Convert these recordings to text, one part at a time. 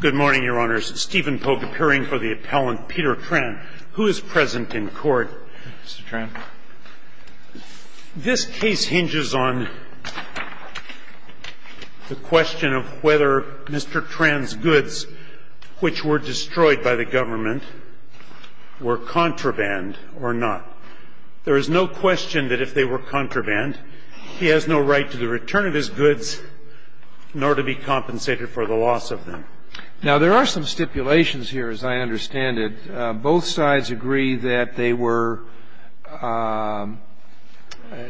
Good morning, your honors. Stephen Polk appearing for the appellant, Peter Tran. Who is present in court? Mr. Tran. This case hinges on the question of whether Mr. Tran's goods, which were destroyed by the government, were contraband or not. There is no question that if they were contraband, he has no right to the return of his goods nor to be compensated for the loss of them. Now, there are some stipulations here, as I understand it. Both sides agree that they were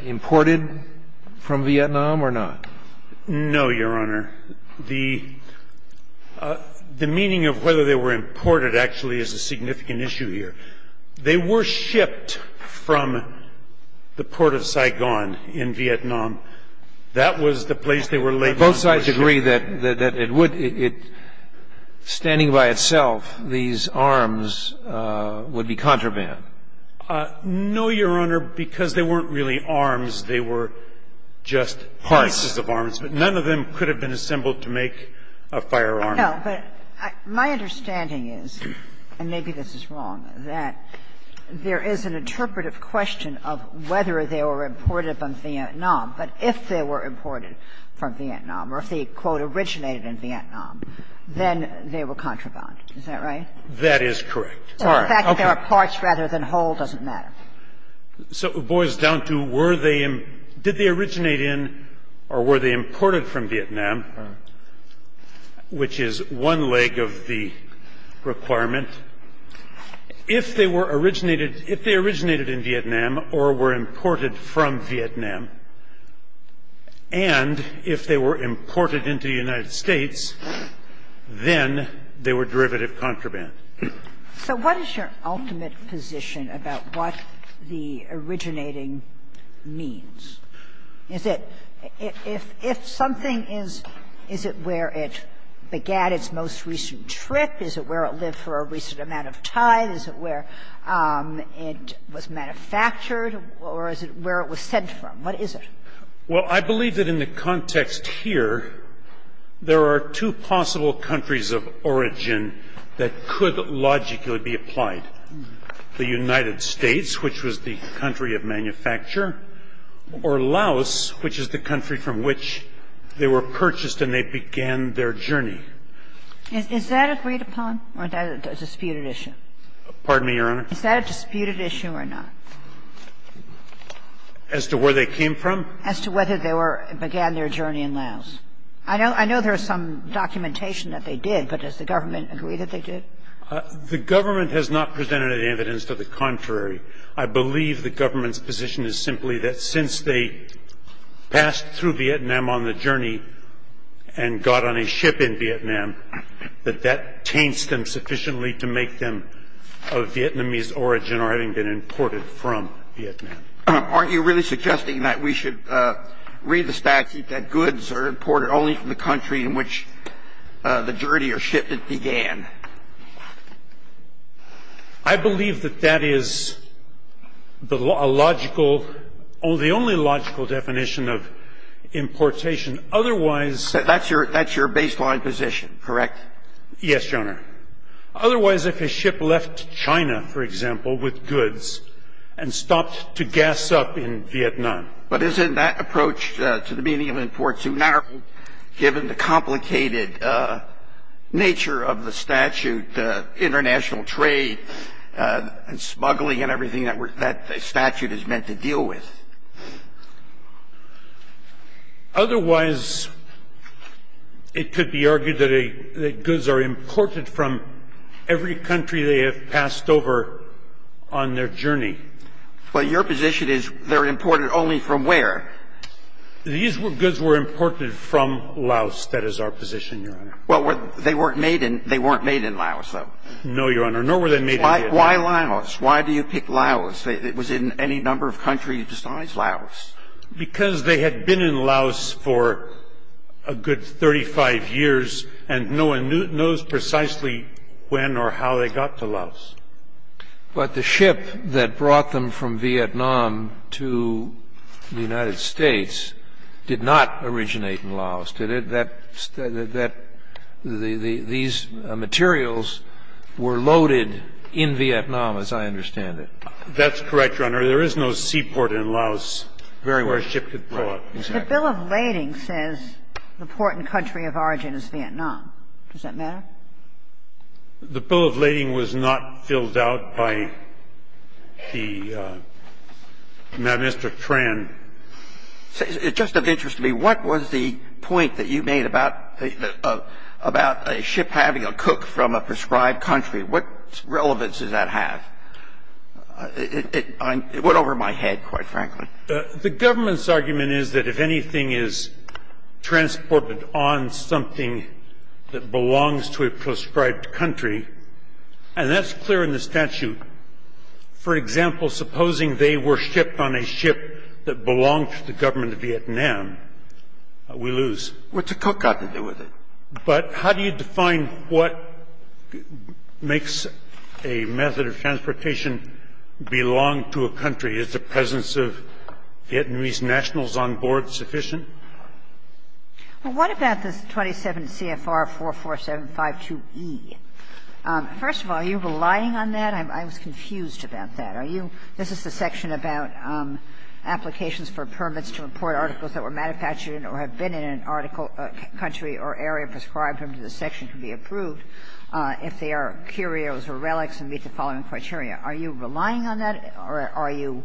imported from Vietnam or not? No, your honor. The meaning of whether they were imported actually is a significant issue here. They were shipped from the port of Saigon in Vietnam. That was the place they were laid down. Both sides agree that it would — standing by itself, these arms would be contraband? No, your honor. Because they weren't really arms. They were just pieces of arms. Parts. But none of them could have been assembled to make a firearm. No, but my understanding is, and maybe this is wrong, that there is an interpretive question of whether they were imported from Vietnam, but if they were imported from Vietnam or if they, quote, originated in Vietnam, then they were contraband. Is that right? That is correct. All right. Okay. So the fact that they were parts rather than whole doesn't matter. So it boils down to, were they — did they originate in or were they imported from Vietnam, which is one leg of the requirement? If they were originated — if they originated in Vietnam or were imported from Vietnam, and if they were imported into the United States, then they were derivative contraband. So what is your ultimate position about what the originating means? Is it — if something is — is it where it began its most recent trip? Is it where it lived for a recent amount of time? Is it where it was manufactured? Or is it where it was sent from? What is it? Well, I believe that in the context here, there are two possible countries of origin that could logically be applied, the United States, which was the country of manufacture, or Laos, which is the country from which they were purchased and they began their journey. Is that agreed upon or is that a disputed issue? Pardon me, Your Honor? Is that a disputed issue or not? As to where they came from? As to whether they were — began their journey in Laos. I know — I know there is some documentation that they did, but does the government agree that they did? The government has not presented any evidence to the contrary. I believe the government's position is simply that since they passed through Vietnam on the journey and got on a ship in Vietnam, that that taints them sufficiently to make them of Vietnamese origin or having been imported from Vietnam. Aren't you really suggesting that we should read the statute that goods are imported only from the country in which the journey or ship that began? I believe that that is a logical — the only logical definition of importation. Otherwise — That's your — that's your baseline position, correct? Yes, Your Honor. Otherwise, if a ship left China, for example, with goods and stopped to gas up in Vietnam — But isn't that approach to the meaning of import too narrow, given the complicated nature of the statute, international trade and smuggling and everything that that statute is meant to deal with? Otherwise, it could be argued that goods are imported from every country they have passed over on their journey. But your position is they're imported only from where? These goods were imported from Laos. That is our position, Your Honor. Well, they weren't made in — they weren't made in Laos, though. No, Your Honor. Nor were they made in Vietnam. Why Laos? Why do you pick Laos? Was it in any number of countries besides Laos? Because they had been in Laos for a good 35 years, and no one knows precisely when or how they got to Laos. But the ship that brought them from Vietnam to the United States did not originate in Laos, did it? That — these materials were loaded in Vietnam, as I understand it. That's correct, Your Honor. There is no seaport in Laos where a ship could port. Right. Exactly. The Bill of Lading says the port and country of origin is Vietnam. Does that matter? The Bill of Lading was not filled out by the Magistrate Tran. It's just of interest to me, what was the point that you made about a ship having a cook from a prescribed country? What relevance does that have? It went over my head, quite frankly. The Government's argument is that if anything is transported on something that belongs to a prescribed country, and that's clear in the statute. For example, supposing they were shipped on a ship that belonged to the Government of Vietnam, we lose. What's a cook got to do with it? But how do you define what makes a method of transportation belong to a country? Is the presence of Vietnamese nationals on board sufficient? Well, what about this 27 CFR 44752e? First of all, are you relying on that? I was confused about that. Are you — this is the section about applications for permits to import articles that were manufactured in or have been in an article country or area prescribed under the section to be approved if they are curios or relics and meet the following criteria. Are you relying on that, or are you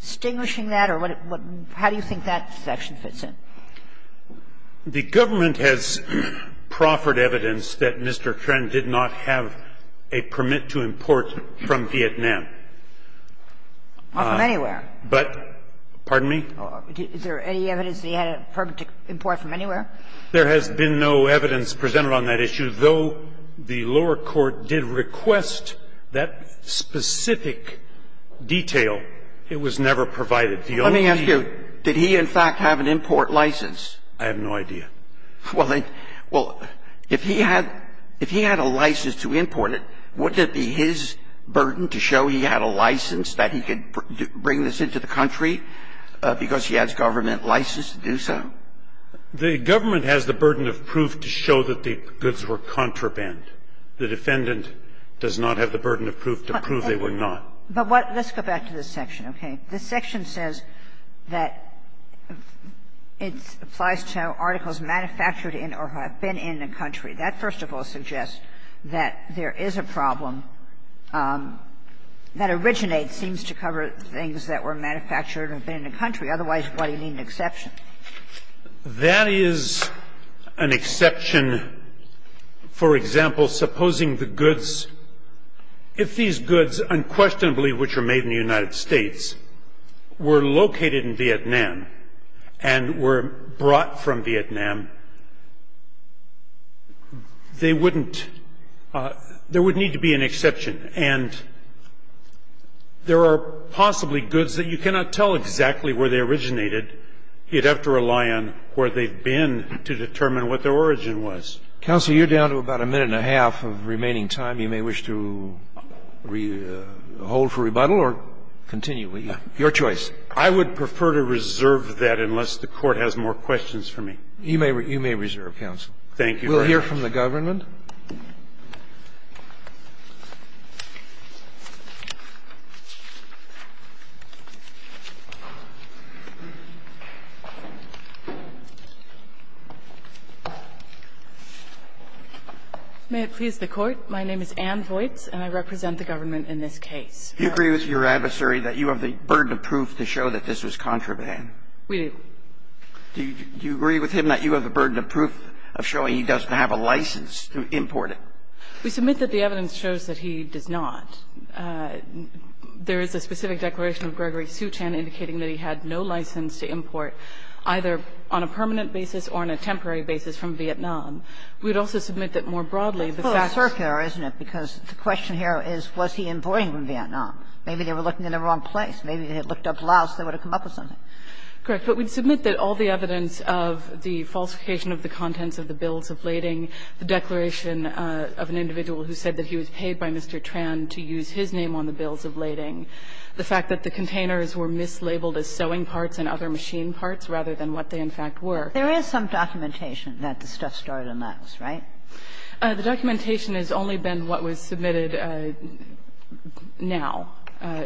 distinguishing that, or what — how do you think that section fits in? The Government has proffered evidence that Mr. Tran did not have a permit to import from Vietnam. Not from anywhere. But — pardon me? Is there any evidence that he had a permit to import from anywhere? There has been no evidence presented on that issue. Though the lower court did request that specific detail, it was never provided. The only thing he— Let me ask you, did he, in fact, have an import license? I have no idea. Well, if he had a license to import it, wouldn't it be his burden to show he had a license that he could bring this into the country because he has government license to do so? The Government has the burden of proof to show that the goods were contraband. The defendant does not have the burden of proof to prove they were not. But what — let's go back to this section, okay? This section says that it applies to articles manufactured in or have been in the country. That, first of all, suggests that there is a problem that originates, seems to cover things that were manufactured or have been in the country. Otherwise, why do you need an exception? That is an exception, for example, supposing the goods — if these goods, unquestionably which are made in the United States, were located in Vietnam and were brought from Vietnam, they wouldn't — there would need to be an exception. And there are possibly goods that you cannot tell exactly where they originated. You'd have to rely on where they've been to determine what their origin was. Counsel, you're down to about a minute and a half of remaining time. You may wish to hold for rebuttal or continue. Your choice. I would prefer to reserve that unless the Court has more questions for me. You may reserve, counsel. Thank you very much. We'll hear from the government. May it please the Court. My name is Ann Voights, and I represent the government in this case. Do you agree with your adversary that you have the burden of proof to show that this was contraband? We do. Do you agree with him that you have the burden of proof of showing he doesn't have a license to import it? We submit that the evidence shows that he does not. There is a specific declaration of Gregory Suchan indicating that he had no license to import, either on a permanent basis or on a temporary basis, from Vietnam. We would also submit that more broadly, the fact that he was imported from Vietnam. Maybe they were looking in the wrong place. Maybe if they had looked up Laos, they would have come up with something. Correct. But we'd submit that all the evidence of the falsification of the contents of the containers, including the declaration of an individual who said that he was paid by Mr. Tran to use his name on the bills of lading, the fact that the containers were mislabeled as sewing parts and other machine parts rather than what they, in fact, were. There is some documentation that the stuff started in Laos, right? The documentation has only been what was submitted now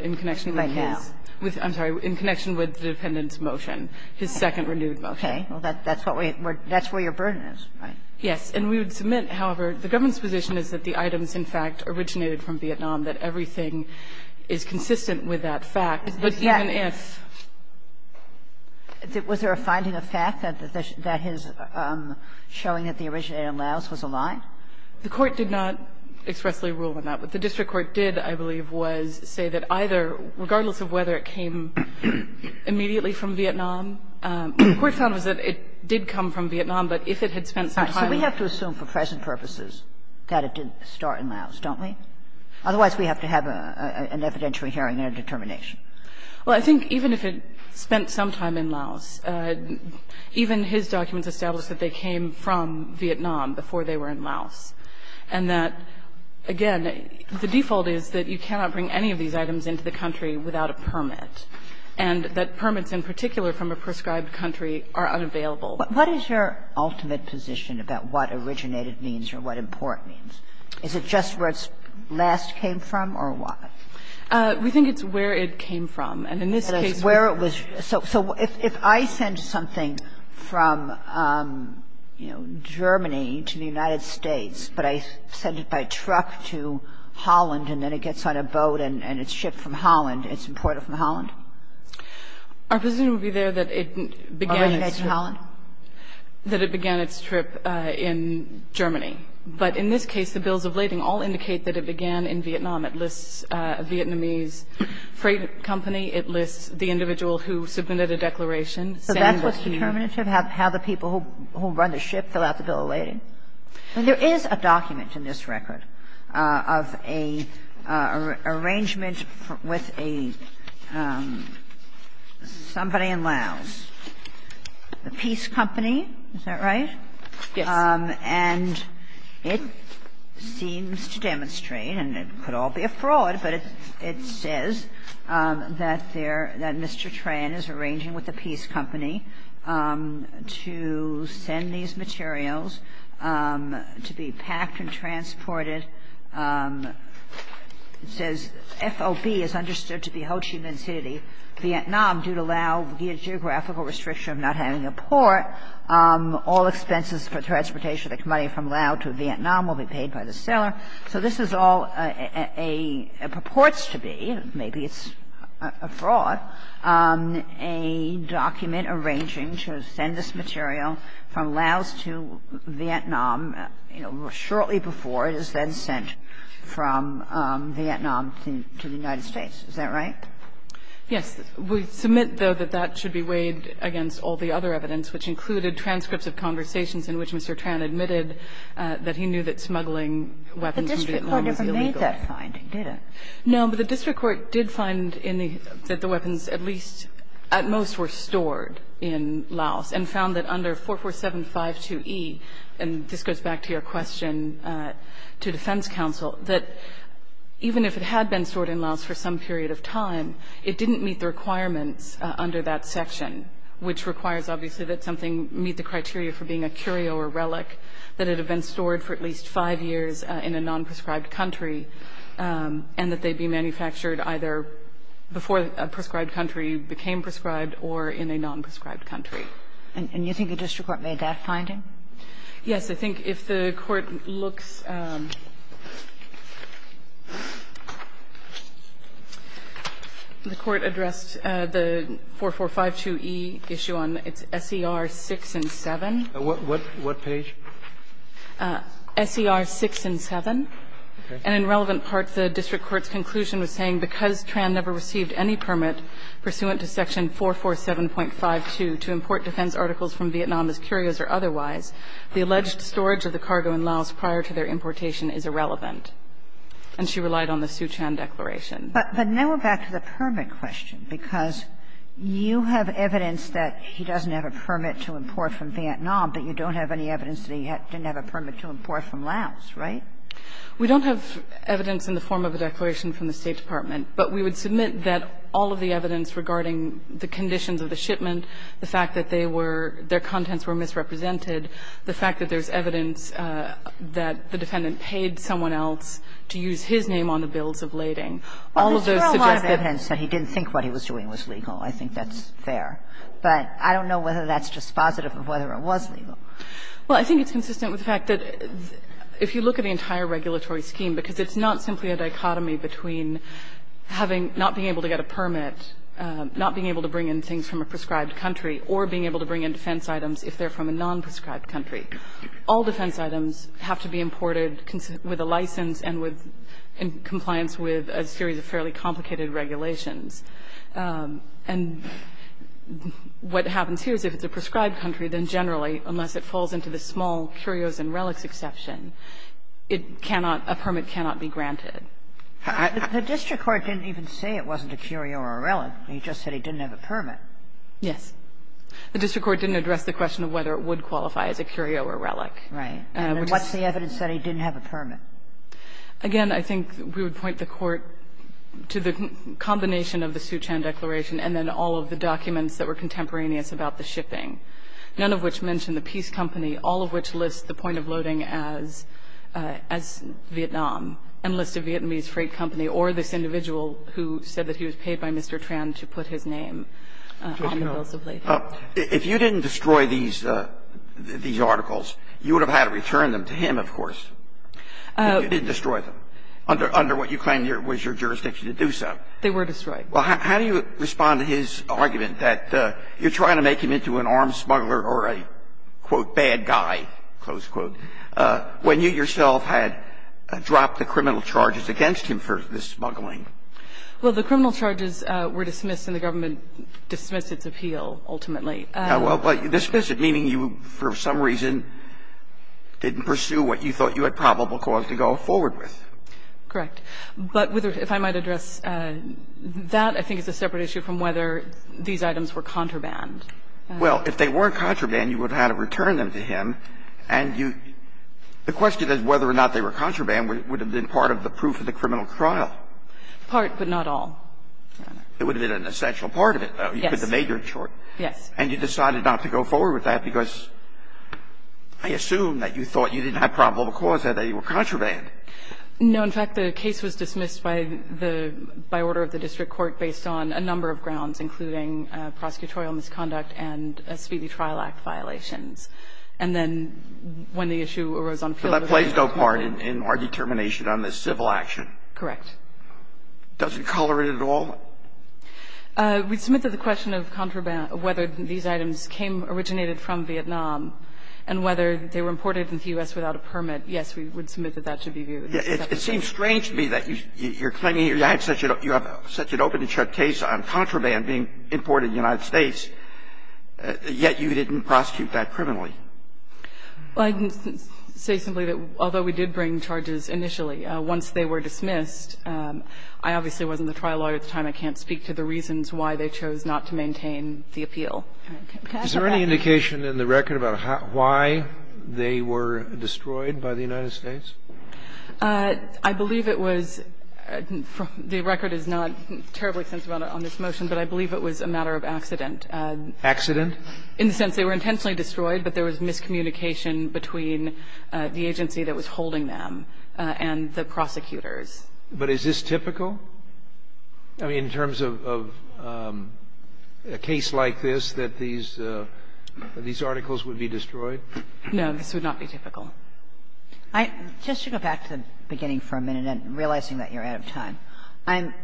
in connection with his -- Right now. I'm sorry, in connection with the dependent's motion, his second renewed motion. Okay. Well, that's what we're -- that's where your burden is, right? Yes. And we would submit, however, the government's position is that the items, in fact, originated from Vietnam, that everything is consistent with that fact, but even if--. Was there a finding of fact that his showing that they originated in Laos was a lie? The Court did not expressly rule on that. What the district court did, I believe, was say that either, regardless of whether it came immediately from Vietnam, what the Court found was that it did come from Vietnam. So we have to assume for present purposes that it didn't start in Laos, don't we? Otherwise, we have to have an evidentiary hearing and a determination. Well, I think even if it spent some time in Laos, even his documents establish that they came from Vietnam before they were in Laos, and that, again, the default is that you cannot bring any of these items into the country without a permit, and that permits in particular from a prescribed country are unavailable. What is your ultimate position about what originated means or what import means? Is it just where it last came from or what? We think it's where it came from. And in this case, where it was--. So if I send something from, you know, Germany to the United States, but I send it by truck to Holland and then it gets on a boat and it's shipped from Holland, it's imported from Holland? Our position would be there that it began in Holland. That it began its trip in Germany. But in this case, the bills of lading all indicate that it began in Vietnam. It lists a Vietnamese freight company. It lists the individual who submitted a declaration. So that's what's determinative, how the people who run the ship fill out the bill of lading. And there is a document in this record of a arrangement with a --- somebody in Laos, a peace company. Is that right? Yes. And it seems to demonstrate, and it could all be a fraud, but it says that they're -- that Mr. Tran is arranging with a peace company to send these materials to be packed and transported. It says FOB is understood to be Ho Chi Minh City, Vietnam due to Lao Vietnamese There is a document in this record of a document that states that there may be a geographical restriction of not having a port. All expenses for transportation of the money from Laos to Vietnam will be paid by the seller. So this is all a -- it purports to be, maybe it's a fraud, a document arranging to send this material from Laos to Vietnam, you know, shortly before it is then sent from Vietnam to the United States. Is that right? Yes. We submit, though, that that should be weighed against all the other evidence, which included transcripts of conversations in which Mr. Tran admitted that he knew that smuggling weapons from Vietnam was illegal. The district court never made that finding, did it? No, but the district court did find in the -- that the weapons at least at most were stored in Laos, and found that under 44752E, and this goes back to your question to defense counsel, that even if it had been stored in Laos for some period of time, it didn't meet the requirements under that section, which requires, obviously, that something meet the criteria for being a curio or relic, that it had been stored for at least five years in a non-prescribed country, and that they be manufactured either before a prescribed country became prescribed or in a non-prescribed country. And you think the district court made that finding? Yes. I think if the Court looks, the Court addressed the 4452E issue on its SER 6 and 7. What page? SER 6 and 7. And in relevant parts, the district court's conclusion was saying because Tran never received any permit pursuant to section 447.52 to import defense articles from Vietnam as curios or otherwise, the alleged storage of the cargo in Laos prior to their importation is irrelevant. And she relied on the Siu Chan declaration. But now we're back to the permit question, because you have evidence that he doesn't have a permit to import from Vietnam, but you don't have any evidence that he didn't have a permit to import from Laos, right? We don't have evidence in the form of a declaration from the State Department. But we would submit that all of the evidence regarding the conditions of the shipment, the fact that they were – their contents were misrepresented, the fact that there's evidence that the defendant paid someone else to use his name on the bills of lading, all of those suggest that he didn't think what he was doing was legal. I think that's fair. But I don't know whether that's just positive or whether it was legal. Well, I think it's consistent with the fact that if you look at the entire regulatory scheme, because it's not simply a dichotomy between having – not being able to get a permit, not being able to bring in things from a prescribed country, or being able to bring in defense items if they're from a non-prescribed country, all defense items have to be imported with a license and with – in compliance with a series of fairly complicated regulations. And what happens here is if it's a prescribed country, then generally, unless it falls into the small curios and relics exception, it cannot – a permit cannot be granted. The district court didn't even say it wasn't a curio or a relic. He just said he didn't have a permit. Yes. The district court didn't address the question of whether it would qualify as a curio or relic. Right. And what's the evidence that he didn't have a permit? Again, I think we would point the Court to the combination of the fact that the And I think we would point the Court to the combination of the Sioux Chan Declaration and then all of the documents that were contemporaneous about the shipping, none of which mention the Peace Company, all of which list the point of loading as – as Vietnam, and list a Vietnamese freight company or this individual who said that he was paid by Mr. Tran to put his name on the bills of lading. If you didn't destroy these – these articles, you would have had to return them to him, of course, if you didn't destroy them, under what you claim was your jurisdiction to do so. They were destroyed. Well, how do you respond to his argument that you're trying to make him into an armed smuggler or a, quote, bad guy, close quote, when you yourself had dropped the criminal charges against him for the smuggling? Well, the criminal charges were dismissed, and the government dismissed its appeal, ultimately. Well, you dismissed it, meaning you, for some reason, didn't pursue what you thought you had probable cause to go forward with. Correct. But whether – if I might address that, I think it's a separate issue from whether these items were contraband. Well, if they were contraband, you would have had to return them to him, and you – the question is whether or not they were contraband would have been part of the proof of the criminal trial. Part, but not all, Your Honor. It would have been an essential part of it, though. Yes. You put the major in short. Yes. And you decided not to go forward with that because I assume that you thought you didn't have probable cause, that they were contraband. No. In fact, the case was dismissed by the – by order of the district court based on a number of grounds, including prosecutorial misconduct and a speedy trial act violations. And then when the issue arose on appeal, the court – But that plays no part in our determination on the civil action. Correct. Doesn't color it at all? We submit that the question of contraband, whether these items came – originated from Vietnam, and whether they were imported into the U.S. without a permit, yes, we would submit that that should be viewed. It seems strange to me that you're claiming you had such a – you have such an open and shut case on contraband being imported to the United States, yet you didn't prosecute that criminally. Well, I can say simply that although we did bring charges initially, once they were dismissed, I obviously wasn't the trial lawyer at the time. I can't speak to the reasons why they chose not to maintain the appeal. Is there any indication in the record about how – why they were destroyed by the United States? I believe it was – the record is not terribly sensitive on this motion, but I believe it was a matter of accident. Accident? In the sense they were intentionally destroyed, but there was miscommunication between the agency that was holding them and the prosecutors. But is this typical? I mean, in terms of a case like this, that these – that these articles would be destroyed? No, this would not be typical. I – just to go back to the beginning for a minute, and realizing that you're out of time, I'm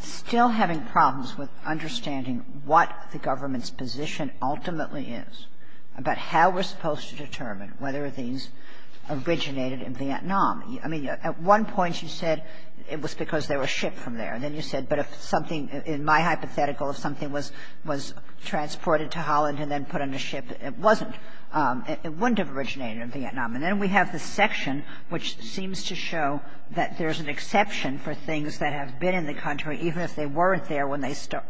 still having problems with understanding what the government's position ultimately is about how we're supposed to determine whether these originated in Vietnam. I mean, at one point you said it was because they were shipped from there. And then you said, but if something – in my hypothetical, if something was – was transported to Holland and then put on a ship, it wasn't – it wouldn't have originated in Vietnam. And then we have this section which seems to show that there's an exception for things that have been in the country, even if they weren't there when they were shipped.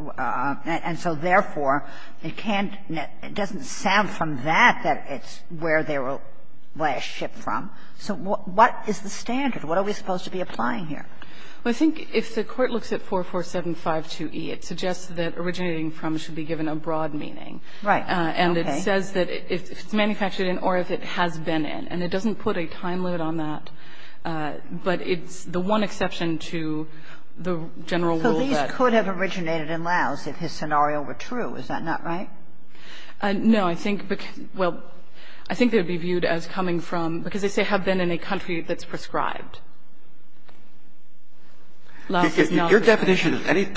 And so, therefore, it can't – it doesn't sound from that that it's where they were last shipped from. So what is the standard? What are we supposed to be applying here? Well, I think if the Court looks at 44752e, it suggests that originating from should be given a broad meaning. Right. Okay. And it says that if it's manufactured in or if it has been in. And it doesn't put a time limit on that, but it's the one exception to the general rule that – So these could have originated in Laos if his scenario were true. Is that not right? No. I think – well, I think they would be viewed as coming from – because they say have been in a country that's prescribed. Laos is not prescribed. Your definition of any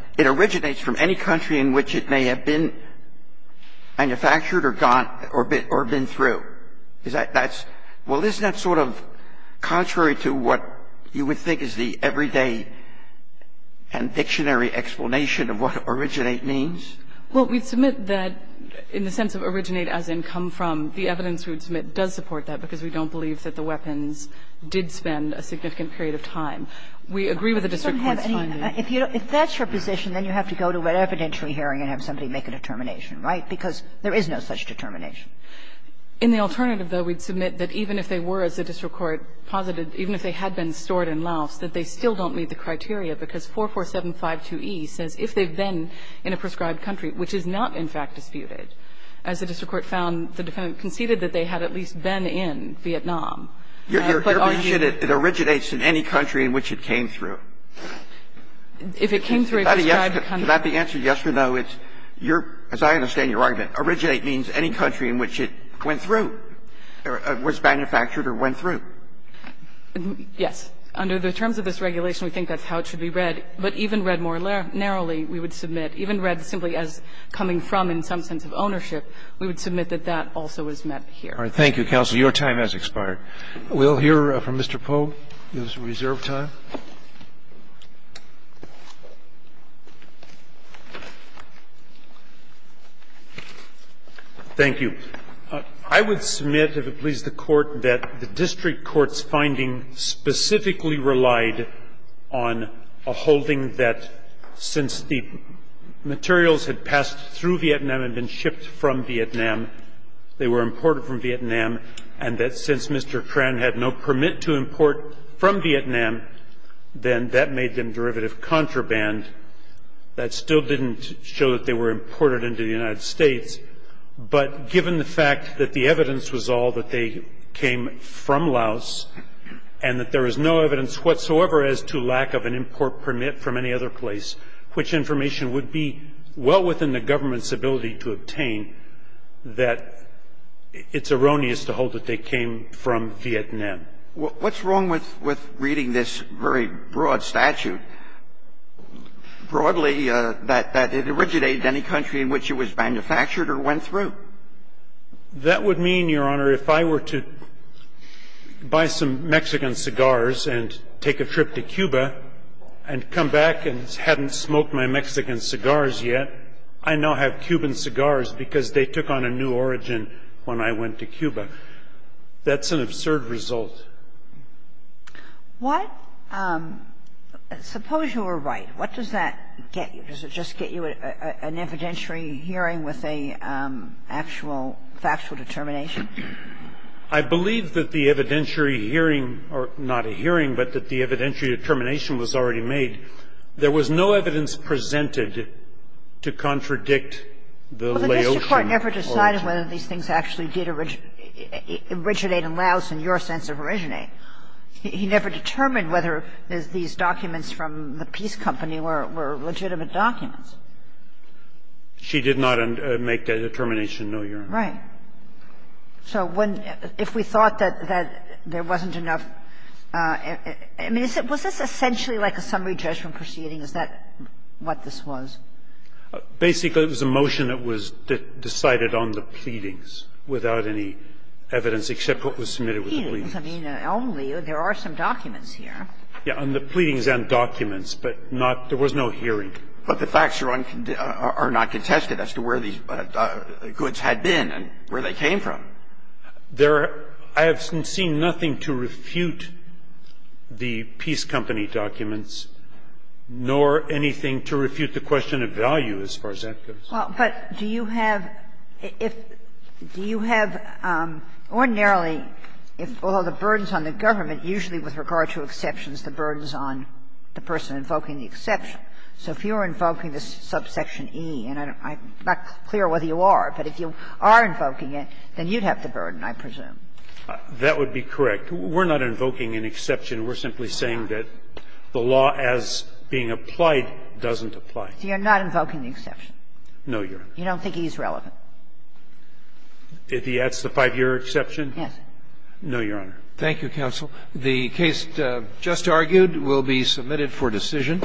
– it originates from any country in which it may have been manufactured or gone – or been through. Is that – that's – well, isn't that sort of contrary to what you would think is the everyday and dictionary explanation of what originate means? Well, we'd submit that in the sense of originate as in come from, the evidence we would submit does support that because we don't believe that the weapons did spend a significant period of time. We agree with the district court's finding. If you don't have any – if that's your position, then you have to go to an evidentiary hearing and have somebody make a determination, right? Because there is no such determination. In the alternative, though, we'd submit that even if they were, as the district court posited, even if they had been stored in Laos, that they still don't meet the criteria because 44752E says if they've been in a prescribed country, which is not, in fact, disputed, as the district court found, the defendant conceded that they had at least been in Vietnam. But are you – Your definition, it originates in any country in which it came through. If it came through a prescribed country. Is that the answer, yes or no? It's your – as I understand your argument, originate means any country in which it went through or was manufactured or went through. Yes. Under the terms of this regulation, we think that's how it should be read. But even read more narrowly, we would submit, even read simply as coming from in some sense of ownership, we would submit that that also is met here. All right. Thank you, counsel. Your time has expired. We'll hear from Mr. Pogue. He has reserve time. Thank you. I would submit, if it please the Court, that the district court's finding specifically relied on a holding that since the materials had passed through Vietnam and been shipped from Vietnam, they were imported from Vietnam, and that since Mr. Tran had no permit to import from Vietnam, then that made them derivative contraband. That still didn't show that they were imported into the United States. But given the fact that the evidence was all that they came from Laos, and that there is no evidence whatsoever as to lack of an import permit from any other place, which information would be well within the government's ability to obtain, that it's erroneous to hold that they came from Vietnam. What's wrong with reading this very broad statute, broadly, that it originated any country in which it was manufactured or went through? That would mean, Your Honor, if I were to buy some Mexican cigars and take a trip to Cuba and come back and hadn't smoked my Mexican cigars yet, I now have Cuban cigars because they took on a new origin when I went to Cuba. That's an absurd result. What – suppose you were right. What does that get you? Does it just get you an evidentiary hearing with an actual factual determination? I believe that the evidentiary hearing – or not a hearing, but that the evidentiary determination was already made. There was no evidence presented to contradict the Laotian origin. Kagan did not decide whether these things actually did originate in Laos in your sense of originate. He never determined whether these documents from the peace company were legitimate documents. She did not make that determination, no, Your Honor. Right. So if we thought that there wasn't enough – I mean, was this essentially like a summary judgment proceeding? Is that what this was? Basically, it was a motion that was decided on the pleadings without any evidence except what was submitted with the pleadings. I mean, only – there are some documents here. Yes. On the pleadings and documents, but not – there was no hearing. But the facts are not contested as to where these goods had been and where they came from. There – I have seen nothing to refute the peace company documents, nor anything to refute the question of value, as far as that goes. Well, but do you have – if – do you have ordinarily, if all the burdens on the government, usually with regard to exceptions, the burdens on the person invoking the exception. So if you're invoking this subsection E, and I'm not clear whether you are, but if you are invoking it, then you'd have the burden, I presume. That would be correct. We're not invoking an exception. We're simply saying that the law as being applied doesn't apply. So you're not invoking the exception? No, Your Honor. You don't think E is relevant? If he adds the 5-year exception? Yes. No, Your Honor. Thank you, counsel. The case just argued will be submitted for decision.